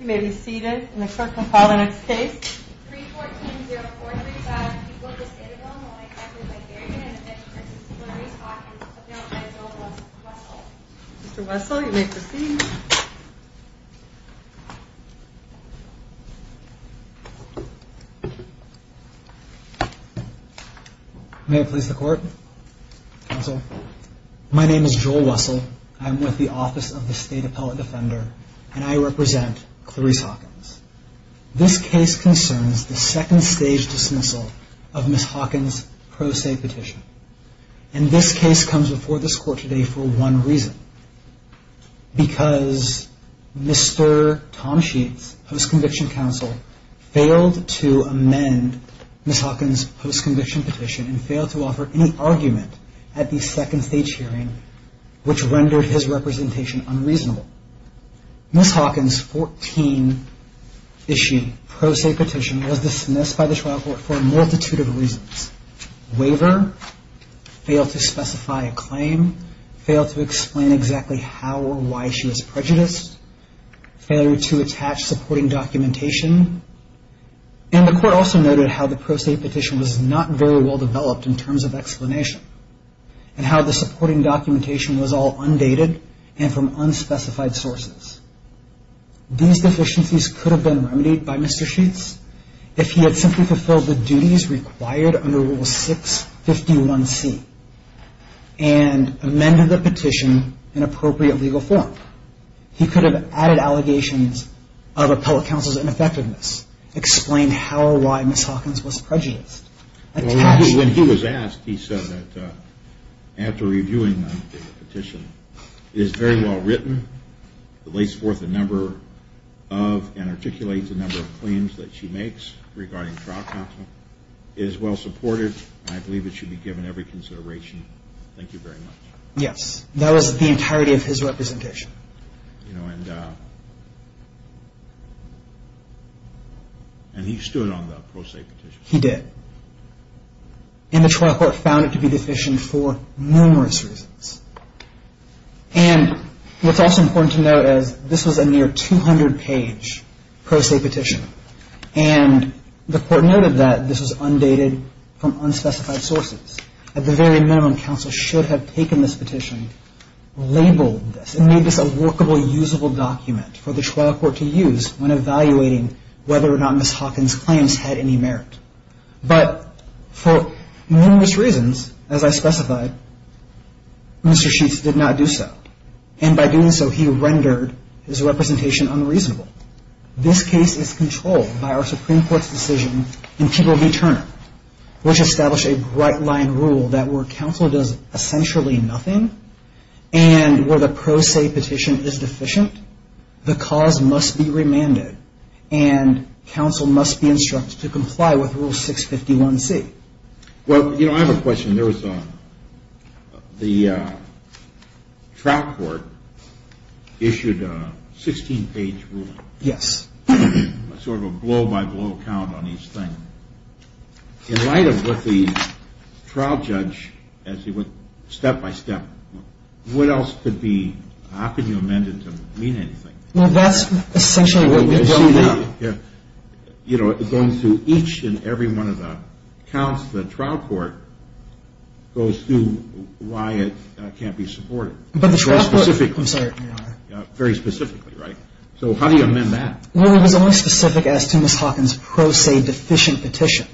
You may be seated, and the court can call the next case. 3-14-0435, people of the state of Illinois affected by Darien and Mitch v. Hillary Hawkins, appealed by Joel Wessel. Mr. Wessel, you may proceed. May I please the court, counsel? My name is Joel Wessel, I'm with the Office of the State Appellate Defender, and I represent Clarice Hawkins. This case concerns the second stage dismissal of Ms. Hawkins' pro se petition. And this case comes before this court today for one reason. Because Mr. Tomschietz, post-conviction counsel, failed to amend Ms. Hawkins' post-conviction petition and failed to offer any argument at the second stage hearing, which rendered his representation unreasonable. Ms. Hawkins' 14-issue pro se petition was dismissed by the trial court for a multitude of reasons. Waiver, fail to specify a claim, fail to explain exactly how or why she was prejudiced, failure to attach supporting documentation, and the court also noted how the pro se petition was not very well developed in terms of explanation, and how the supporting documentation was all undated and from unspecified sources. These deficiencies could have been remedied by Mr. Schietz if he had simply fulfilled the duties required under Rule 651C and amended the petition in appropriate legal form. He could have added allegations of appellate counsel's ineffectiveness, explained how or why Ms. Hawkins was prejudiced. When he was asked, he said that after reviewing the petition, it is very well written, lays forth a number of and articulates a number of claims that she makes regarding trial counsel, is well supported, and I believe it should be given every consideration. Thank you very much. Yes, that was the entirety of his representation. And he stood on the pro se petition? He did. And the trial court found it to be deficient for numerous reasons. And what's also important to note is this was a near 200-page pro se petition, and the court noted that this was undated from unspecified sources. At the very minimum, counsel should have taken this petition, labeled this, and made this a workable, usable document for the trial court to use when evaluating whether or not Ms. Hawkins' claims had any merit. But for numerous reasons, as I specified, Mr. Schietz did not do so. And by doing so, he rendered his representation unreasonable. This case is controlled by our Supreme Court's decision in People v. Turner, which established a bright-line rule that where counsel does essentially nothing and where the pro se petition is deficient, the cause must be remanded, and counsel must be instructed to comply with Rule 651C. Well, you know, I have a question. There was the trial court issued a 16-page ruling. Yes. Sort of a blow-by-blow count on each thing. In light of what the trial judge, as he went step-by-step, what else could be – how can you amend it to mean anything? Well, that's essentially what we're dealing with. Yeah. You know, going through each and every one of the counts, the trial court goes through why it can't be supported. But the trial court – Very specifically. I'm sorry. Very specifically, right? So how do you amend that? Well, it was only specific as to Ms. Hawkins' pro se deficient petition.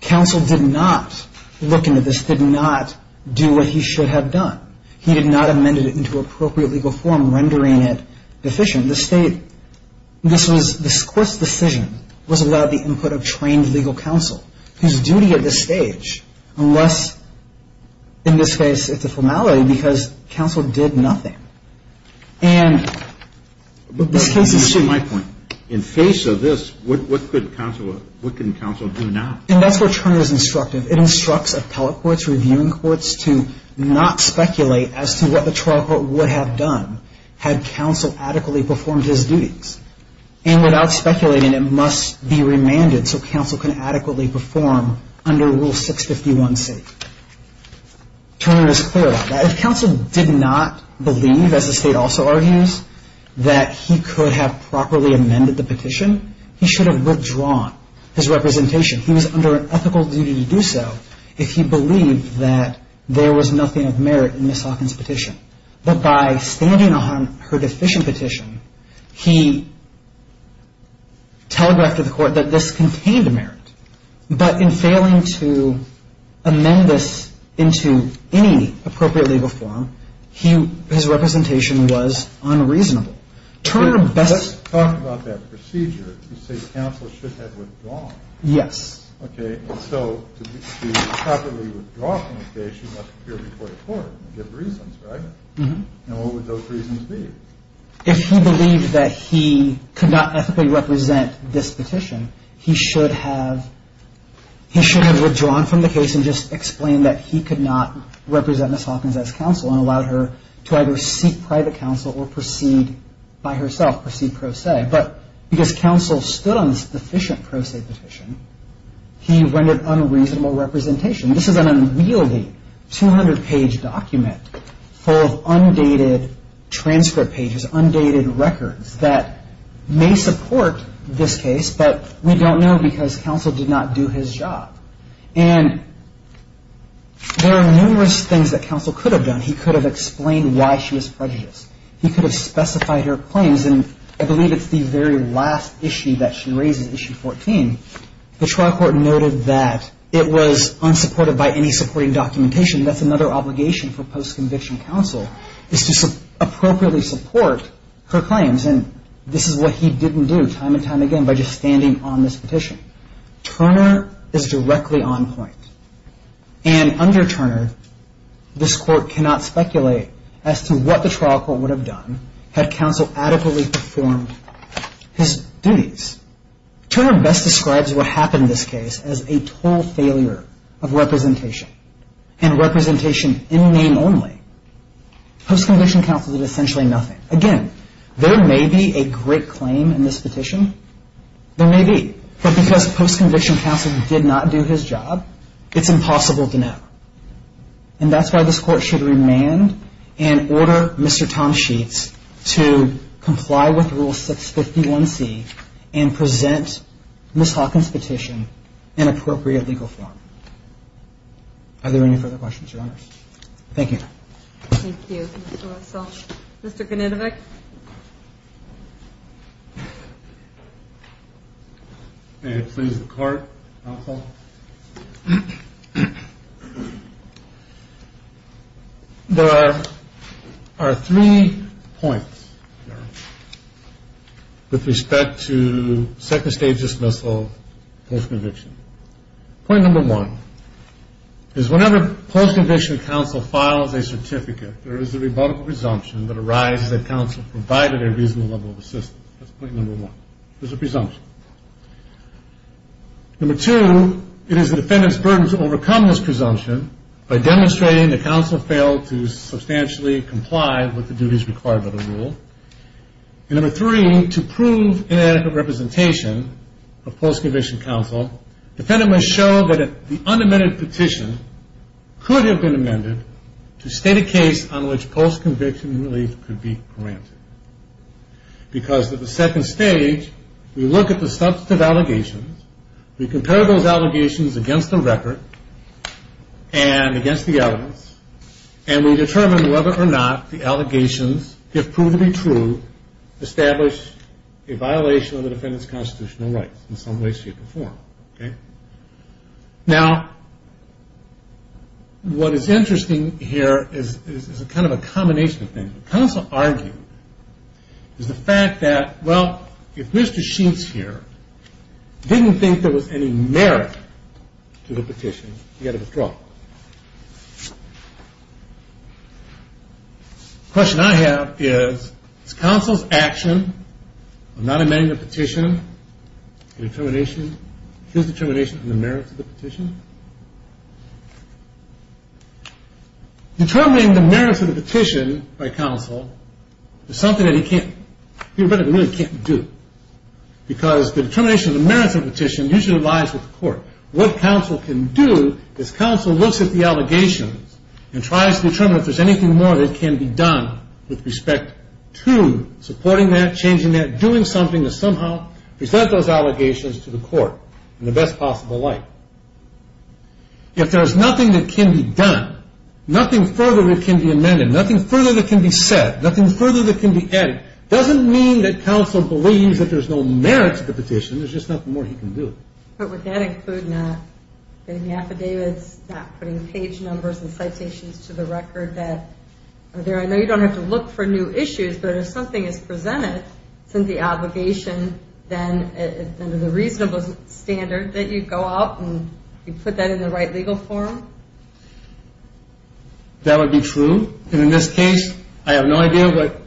Counsel did not look into this, did not do what he should have done. He did not amend it into appropriate legal form, rendering it deficient. The state – this court's decision was without the input of trained legal counsel, whose duty at this stage, unless in this case it's a formality because counsel did nothing. And this case is – But here's my point. In face of this, what could counsel – what can counsel do now? And that's where Turner is instructive. It instructs appellate courts, reviewing courts to not speculate as to what the trial court would have done had counsel adequately performed his duties. And without speculating, it must be remanded so counsel can adequately perform under Rule 651C. Turner is clear about that. If counsel did not believe, as the state also argues, that he could have properly amended the petition, he should have withdrawn his representation. He was under an ethical duty to do so if he believed that there was nothing of merit in Ms. Hawkins' petition. But by standing on her deficient petition, he telegraphed to the court that this contained merit. But in failing to amend this into any appropriate legal form, his representation was unreasonable. Turner best – But let's talk about that procedure. You say counsel should have withdrawn. Yes. Okay. And so to properly withdraw from the case, you must appear before the court and give reasons, right? Mm-hmm. And what would those reasons be? If he believed that he could not ethically represent this petition, he should have – he should have withdrawn from the case and just explained that he could not represent Ms. Hawkins as counsel and allowed her to either seek private counsel or proceed by herself, proceed pro se. But because counsel stood on this deficient pro se petition, he rendered unreasonable representation. This is an unwieldy 200-page document full of undated transcript pages, undated records that may support this case, but we don't know because counsel did not do his job. And there are numerous things that counsel could have done. He could have explained why she was prejudiced. He could have specified her claims. And I believe it's the very last issue that she raises, issue 14. The trial court noted that it was unsupported by any supporting documentation. That's another obligation for post-conviction counsel is to appropriately support her claims. And this is what he didn't do time and time again by just standing on this petition. Turner is directly on point. And under Turner, this court cannot speculate as to what the trial court would have done had counsel adequately performed his duties. Turner best describes what happened in this case as a total failure of representation. And representation in name only. Post-conviction counsel did essentially nothing. Again, there may be a great claim in this petition. There may be. But because post-conviction counsel did not do his job, it's impossible to know. And that's why this court should remand and order Mr. Tom Schietz to comply with Rule 651C and present Ms. Hawkins' petition in appropriate legal form. Are there any further questions, Your Honors? Thank you. Thank you, Mr. Russell. Mr. Koninovic? May it please the Court, counsel? There are three points with respect to second-stage dismissal post-conviction. Point number one is whenever post-conviction counsel files a certificate, there is a rebuttal presumption that arises that counsel provided a reasonable level of assistance. That's point number one. There's a presumption. Number two, it is the defendant's burden to overcome this presumption by demonstrating that counsel failed to substantially comply with the duties required by the rule. And number three, to prove inadequate representation of post-conviction counsel, defendant must show that the unamended petition could have been amended to state a case on which post-conviction relief could be granted. Because at the second stage, we look at the substantive allegations, we compare those allegations against the record and against the evidence, and we determine whether or not the allegations, if proven to be true, establish a violation of the defendant's constitutional rights in some way, shape, or form. Now, what is interesting here is kind of a combination of things. What counsel argued is the fact that, well, if Mr. Sheets here didn't think there was any merit to the petition, he had to withdraw. The question I have is, is counsel's action of not amending the petition his determination on the merit of the petition? Determining the merit of the petition by counsel is something that he really can't do. Because the determination of the merits of the petition usually lies with the court. What counsel can do is counsel looks at the allegations and tries to determine if there's anything more that can be done with respect to supporting that, changing that, doing something to somehow present those allegations to the court in the best possible light. If there's nothing that can be done, nothing further that can be amended, nothing further that can be said, nothing further that can be added, doesn't mean that counsel believes that there's no merit to the petition. There's just nothing more he can do. But would that include not getting the affidavits, not putting page numbers and citations to the record that are there? I know you don't have to look for new issues, but if something is presented, since the allegation, then is it a reasonable standard that you go out and you put that in the right legal form? That would be true. And in this case, I have no idea what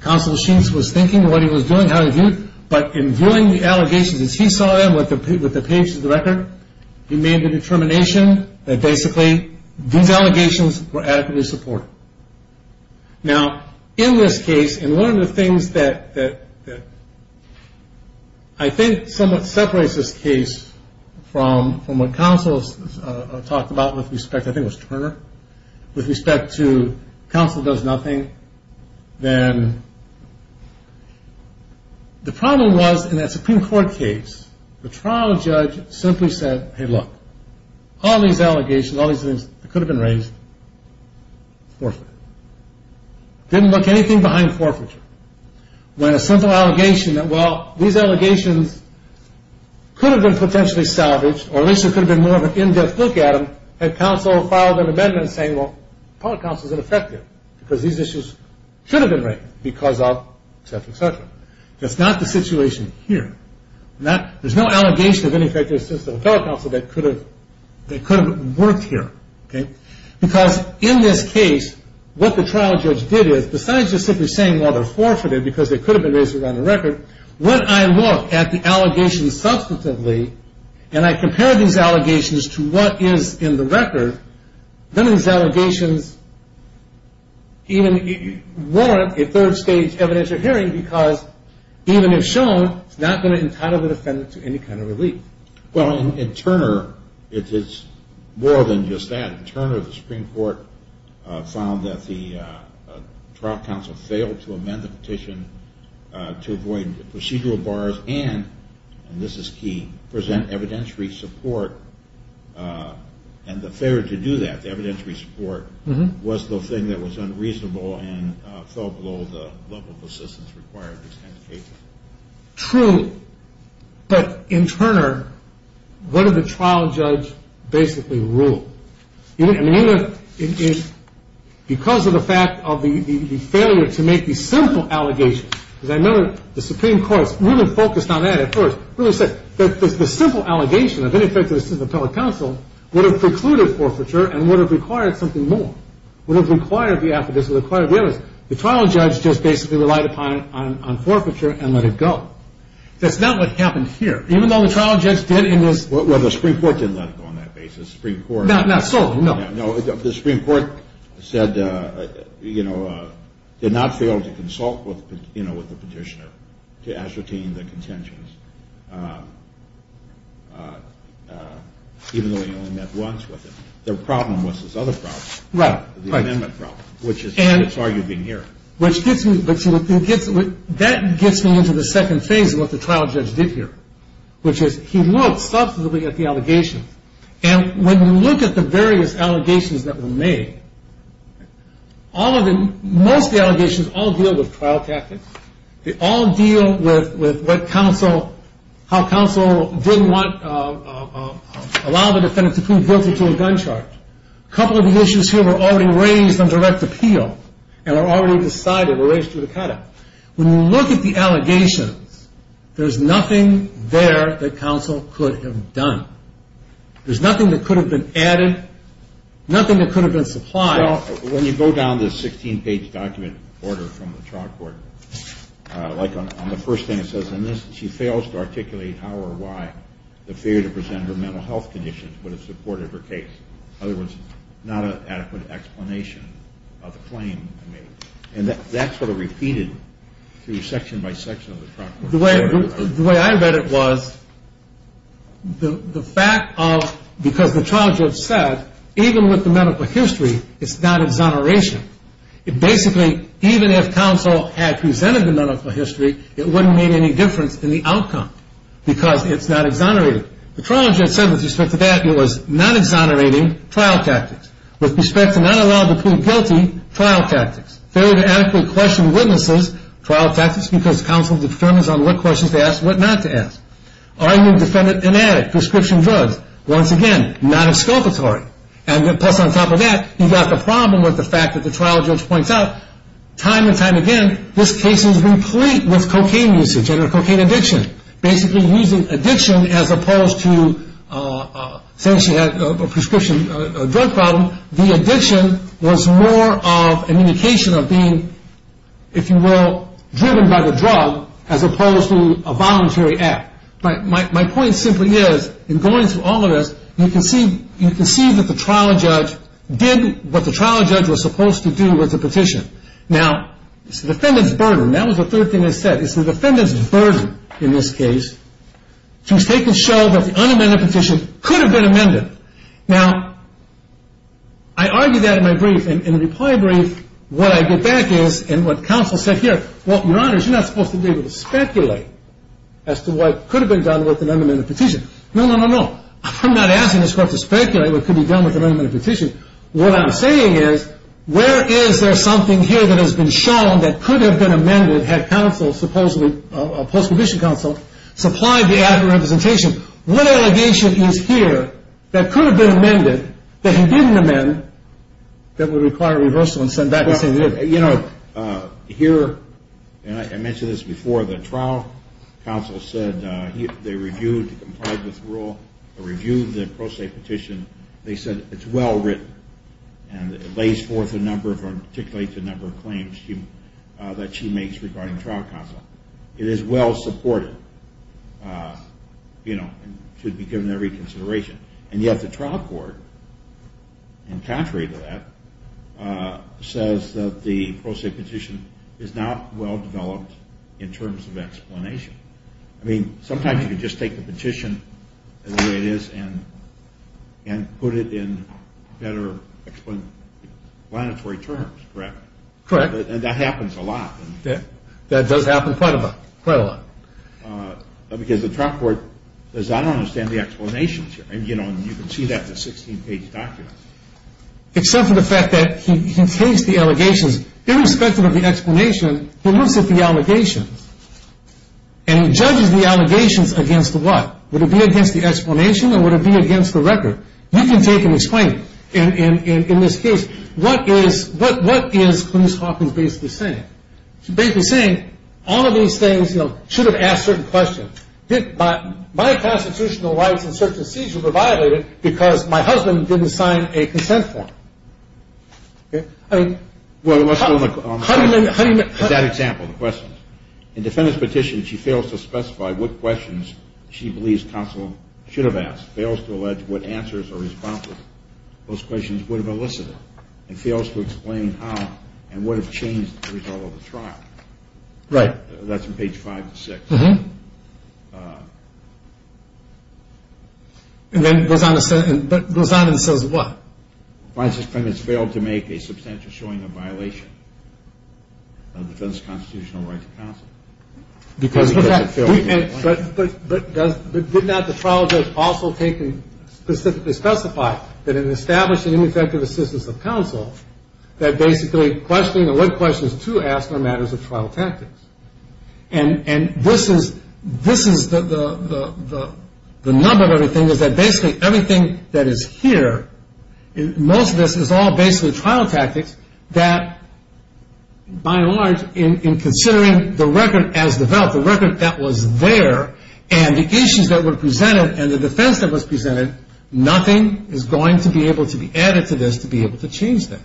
counsel Sheen was thinking, what he was doing, how he viewed it. But in viewing the allegations as he saw them with the pages of the record, he made the determination that basically these allegations were adequately supported. Now, in this case, and one of the things that I think somewhat separates this case from what counsel talked about with respect to, I think it was Turner, with respect to counsel does nothing, then the problem was in that Supreme Court case, the trial judge simply said, hey, look, all these allegations, all these things that could have been raised, forfeit. Didn't look anything behind forfeiture. When a simple allegation that, well, these allegations could have been potentially salvaged, or at least it could have been more of an in-depth look at them, had counsel filed an amendment saying, well, public counsel is ineffective because these issues should have been raised because of, et cetera, et cetera. That's not the situation here. There's no allegation of ineffective assistance of public counsel that could have worked here. Because in this case, what the trial judge did is, besides just simply saying, well, they're forfeited because they could have been raised around the record, when I look at the allegations substantively and I compare these allegations to what is in the record, then these allegations even warrant a third stage evidentiary hearing because even if shown, it's not going to entitle the defendant to any kind of relief. Well, in Turner, it's more than just that. In Turner, the Supreme Court found that the trial counsel failed to amend the petition to avoid procedural bars and, and this is key, present evidentiary support. And the failure to do that, the evidentiary support, was the thing that was unreasonable and fell below the level of assistance required in this case. True. But in Turner, what did the trial judge basically rule? I mean, because of the fact of the failure to make these simple allegations, because I know the Supreme Court's really focused on that at first, really said that the simple allegation of ineffective assistance of public counsel would have precluded forfeiture and would have required something more, would have required the affidavits, would have required the evidence. The trial judge just basically relied upon it on forfeiture and let it go. That's not what happened here. Even though the trial judge did in his... Well, the Supreme Court didn't let it go on that basis. Not solely, no. No, the Supreme Court said, you know, did not fail to consult with, you know, with the petitioner to ascertain the contentions, even though he only met once with him. The problem was this other problem. Right. The amendment problem, which is why you've been here. Which gets me... That gets me into the second phase of what the trial judge did here, which is he looked substantively at the allegations. And when you look at the various allegations that were made, most of the allegations all deal with trial tactics. They all deal with what counsel... how counsel didn't want... allow the defendant to prove guilty to a gun charge. A couple of the issues here were already raised on direct appeal and are already decided or raised through the cutout. When you look at the allegations, there's nothing there that counsel could have done. There's nothing that could have been added, nothing that could have been supplied. Well, when you go down the 16-page document order from the trial court, like on the first thing it says in this, she fails to articulate how or why the fear to present her mental health conditions would have supported her case. In other words, not an adequate explanation of the claim made. And that's sort of repeated through section by section of the trial court. The way I read it was the fact of... even with the medical history, it's not exoneration. Basically, even if counsel had presented the medical history, it wouldn't make any difference in the outcome because it's not exonerated. The trial judge said with respect to that it was not exonerating trial tactics. With respect to not allowing to prove guilty, trial tactics. Failure to adequately question witnesses, trial tactics, because counsel determines on what questions to ask and what not to ask. Are you a defendant and addict, prescription drugs? Once again, not exculpatory. And plus on top of that, you've got the problem with the fact that the trial judge points out time and time again this case is complete with cocaine usage and cocaine addiction. Basically using addiction as opposed to... since she had a prescription drug problem, the addiction was more of an indication of being, if you will, driven by the drug as opposed to a voluntary act. My point simply is in going through all of this, you can see that the trial judge did what the trial judge was supposed to do with the petition. Now, it's the defendant's burden. That was the third thing I said. It's the defendant's burden in this case to take and show that the unamended petition could have been amended. Now, I argue that in my brief. In the reply brief, what I get back is and what counsel said here, well, your honors, you're not supposed to be able to speculate as to what could have been done with an unamended petition. No, no, no, no. I'm not asking this court to speculate what could be done with an unamended petition. What I'm saying is where is there something here that has been shown that could have been amended had counsel supposedly, a post-conviction counsel, supplied the adequate representation. What allegation is here that could have been amended that he didn't amend that would require reversal and send back the same evidence? You know, here, and I mentioned this before, the trial counsel said they reviewed, complied with the rule, reviewed the pro se petition. They said it's well written and it lays forth a number, articulates a number of claims that she makes regarding trial counsel. It is well supported, you know, and should be given every consideration. And yet the trial court, in contrary to that, says that the pro se petition is not well developed in terms of explanation. I mean, sometimes you can just take the petition the way it is and put it in better explanatory terms, correct? Correct. And that happens a lot. That does happen quite a lot. Because the trial court does not understand the explanations here. I mean, you know, and you can see that in the 16-page document. Except for the fact that he takes the allegations, irrespective of the explanation, he looks at the allegations and he judges the allegations against the what? Would it be against the explanation or would it be against the record? You can take and explain in this case. What is Clarence Hawkins basically saying? She's basically saying all of these things, you know, should have asked certain questions. My constitutional rights in search and seizure were violated because my husband didn't sign a consent form. Well, let's look at that example, the questions. In defendant's petition, she fails to specify what questions she believes counsel should have asked, fails to allege what answers or responses those questions would have elicited, and fails to explain how and would have changed the result of the trial. Right. That's in page 5 and 6. And then it goes on and says what? Clarence has failed to make a substantial showing of violation of defense constitutional rights of counsel. But would not the trial judge also take and specifically specify that in establishing ineffective assistance of counsel, that basically questioning or what questions to ask are matters of trial tactics. And this is the number of everything is that basically everything that is here, most of this is all basically trial tactics that, by and large, in considering the record as developed, the record that was there, and the issues that were presented and the defense that was presented, nothing is going to be able to be added to this to be able to change that.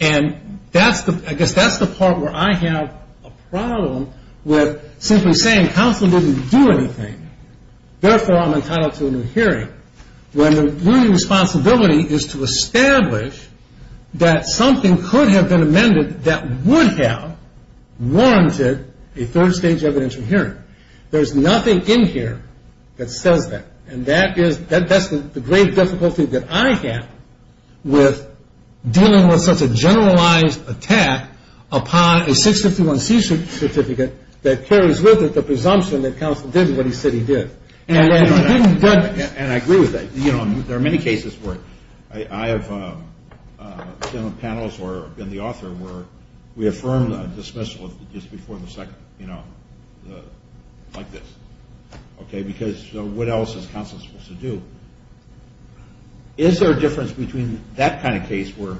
And I guess that's the part where I have a problem with simply saying counsel didn't do anything, therefore I'm entitled to a new hearing, when the responsibility is to establish that something could have been amended that would have warranted a third stage evidential hearing. There's nothing in here that says that. And that's the great difficulty that I have with dealing with such a generalized attack upon a 651C certificate that carries with it the presumption that counsel did what he said he did. And I agree with that. You know, there are many cases where I have been on panels or been the author where we affirmed a dismissal just before the second, you know, like this. Okay, because what else is counsel supposed to do? Is there a difference between that kind of case where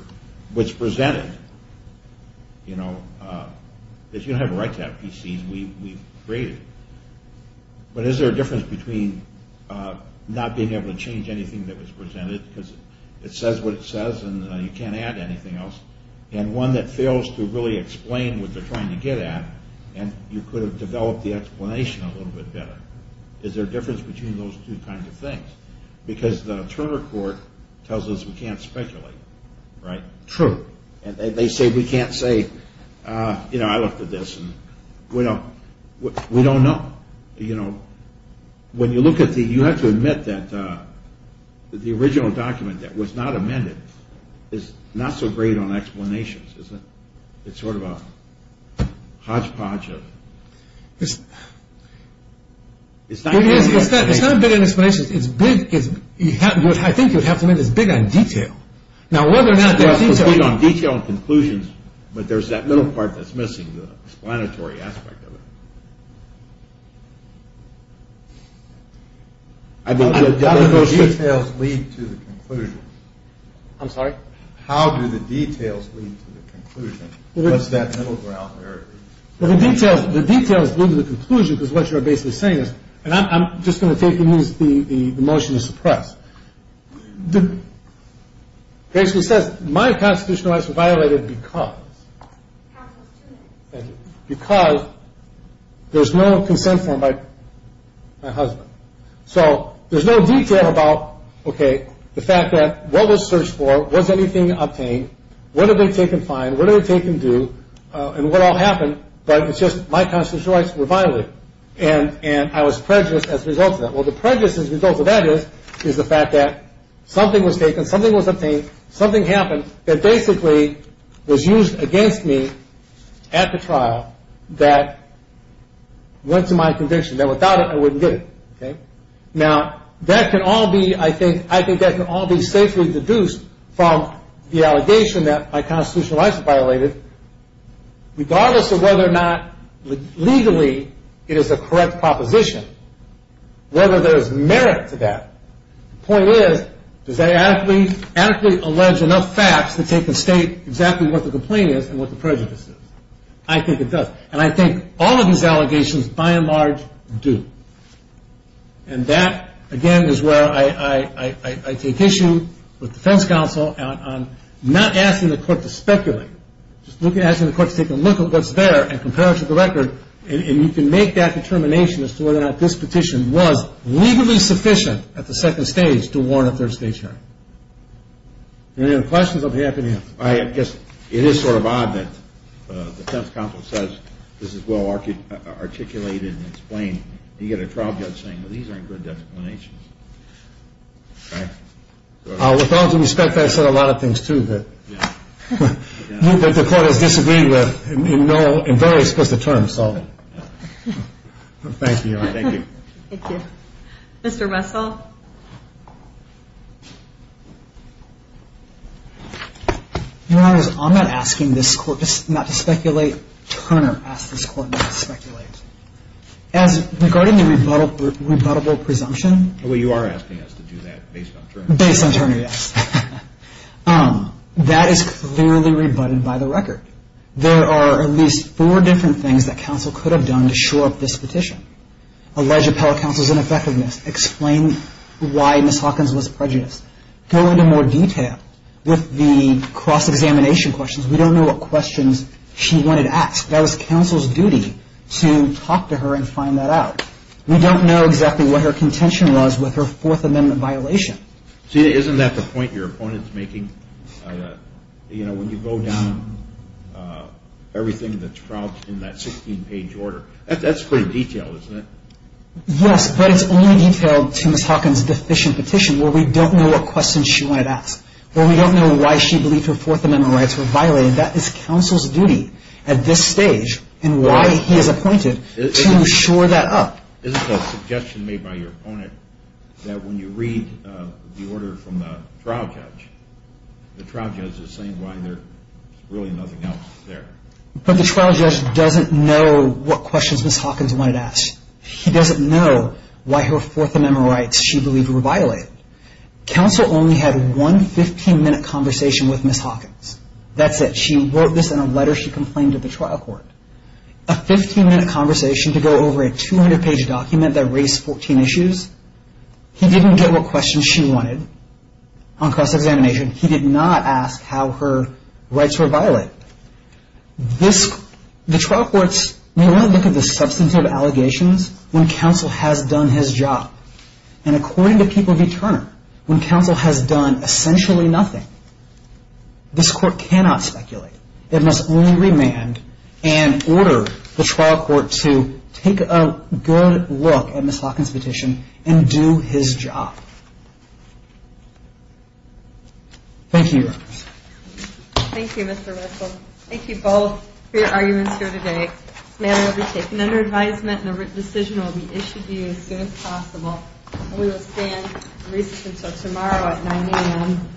what's presented, you know, if you don't have a right to have PCs, we create it. But is there a difference between not being able to change anything that was presented because it says what it says and you can't add anything else and one that fails to really explain what they're trying to get at and you could have developed the explanation a little bit better. Is there a difference between those two kinds of things? Because the attorney court tells us we can't speculate, right? True. And they say we can't say, you know, I looked at this and we don't know. You know, when you look at the, you have to admit that the original document that was not amended is not so great on explanations, is it? It's sort of a hodgepodge of... It's not a bit on explanations. I think you'd have to admit it's big on detail. It's big on detail and conclusions, but there's that middle part that's missing, the explanatory aspect of it. How do the details lead to the conclusion? I'm sorry? How do the details lead to the conclusion? What's that middle ground there? Well, the details lead to the conclusion because what you're basically saying is, and I'm just going to take and use the motion to suppress. It basically says my constitutional rights were violated because... Counsel's two minutes. Because there's no consent form by my husband. So there's no detail about, okay, the fact that what was searched for, was anything obtained, what had been taken fine, what had been taken due, and what all happened, but it's just my constitutional rights were violated and I was prejudiced as a result of that. Well, the prejudice as a result of that is the fact that something was taken, something was obtained, something happened that basically was used against me at the trial that went to my conviction, that without it I wouldn't get it. Now, that can all be, I think, I think that can all be safely deduced from the allegation that my constitutional rights were violated, regardless of whether or not legally it is a correct proposition, whether there's merit to that. The point is, does that adequately allege enough facts to take and state exactly what the complaint is and what the prejudice is? I think it does. And I think all of these allegations, by and large, do. And that, again, is where I take issue with defense counsel on not asking the court to speculate, just asking the court to take a look at what's there and compare it to the record and you can make that determination as to whether or not this petition was legally sufficient at the second stage to warrant a third-stage hearing. Any other questions? I'll be happy to answer. I guess it is sort of odd that the defense counsel says this is well-articulated and explained and you get a trial judge saying, well, these aren't good determinations. With all due respect, I've said a lot of things, too, that the court has disagreed with in very explicit terms. Thank you, Ms. Russell. Thank you. Thank you. Thank you. Mr. Russell? I'm not asking this court not to speculate. Turner asked this court not to speculate. As regarding the rebuttable presumption. Well, you are asking us to do that based on Turner. Based on Turner, yes. That is clearly rebutted by the record. There are at least four different things that counsel could have done to shore up this petition. Allege appellate counsel's ineffectiveness. Explain why Ms. Hawkins was prejudiced. Go into more detail with the cross-examination questions. We don't know what questions she wanted asked. That was counsel's duty to talk to her and find that out. We don't know exactly what her contention was with her Fourth Amendment violation. See, isn't that the point your opponent is making? You know, when you go down everything that's propped in that 16-page order. That's pretty detailed, isn't it? Yes, but it's only detailed to Ms. Hawkins' deficient petition where we don't know what questions she wanted asked, where we don't know why she believed her Fourth Amendment rights were violated. That is counsel's duty at this stage and why he is appointed to shore that up. Is it a suggestion made by your opponent that when you read the order from the trial judge, the trial judge is saying why there's really nothing else there? But the trial judge doesn't know what questions Ms. Hawkins wanted asked. He doesn't know why her Fourth Amendment rights she believed were violated. Counsel only had one 15-minute conversation with Ms. Hawkins. That's it. She wrote this in a letter she complained to the trial court. A 15-minute conversation to go over a 200-page document that raised 14 issues. He didn't get what questions she wanted on cross-examination. He did not ask how her rights were violated. The trial courts, we want to look at the substantive allegations when counsel has done his job. And according to People v. Turner, when counsel has done essentially nothing, this court cannot speculate. It must only remand and order the trial court to take a good look at Ms. Hawkins' petition and do his job. Thank you, Your Honors. Thank you, Mr. Russell. Thank you both for your arguments here today. This matter will be taken under advisement and a written decision will be issued to you as soon as possible. We will stand recess until tomorrow at 9 a.m.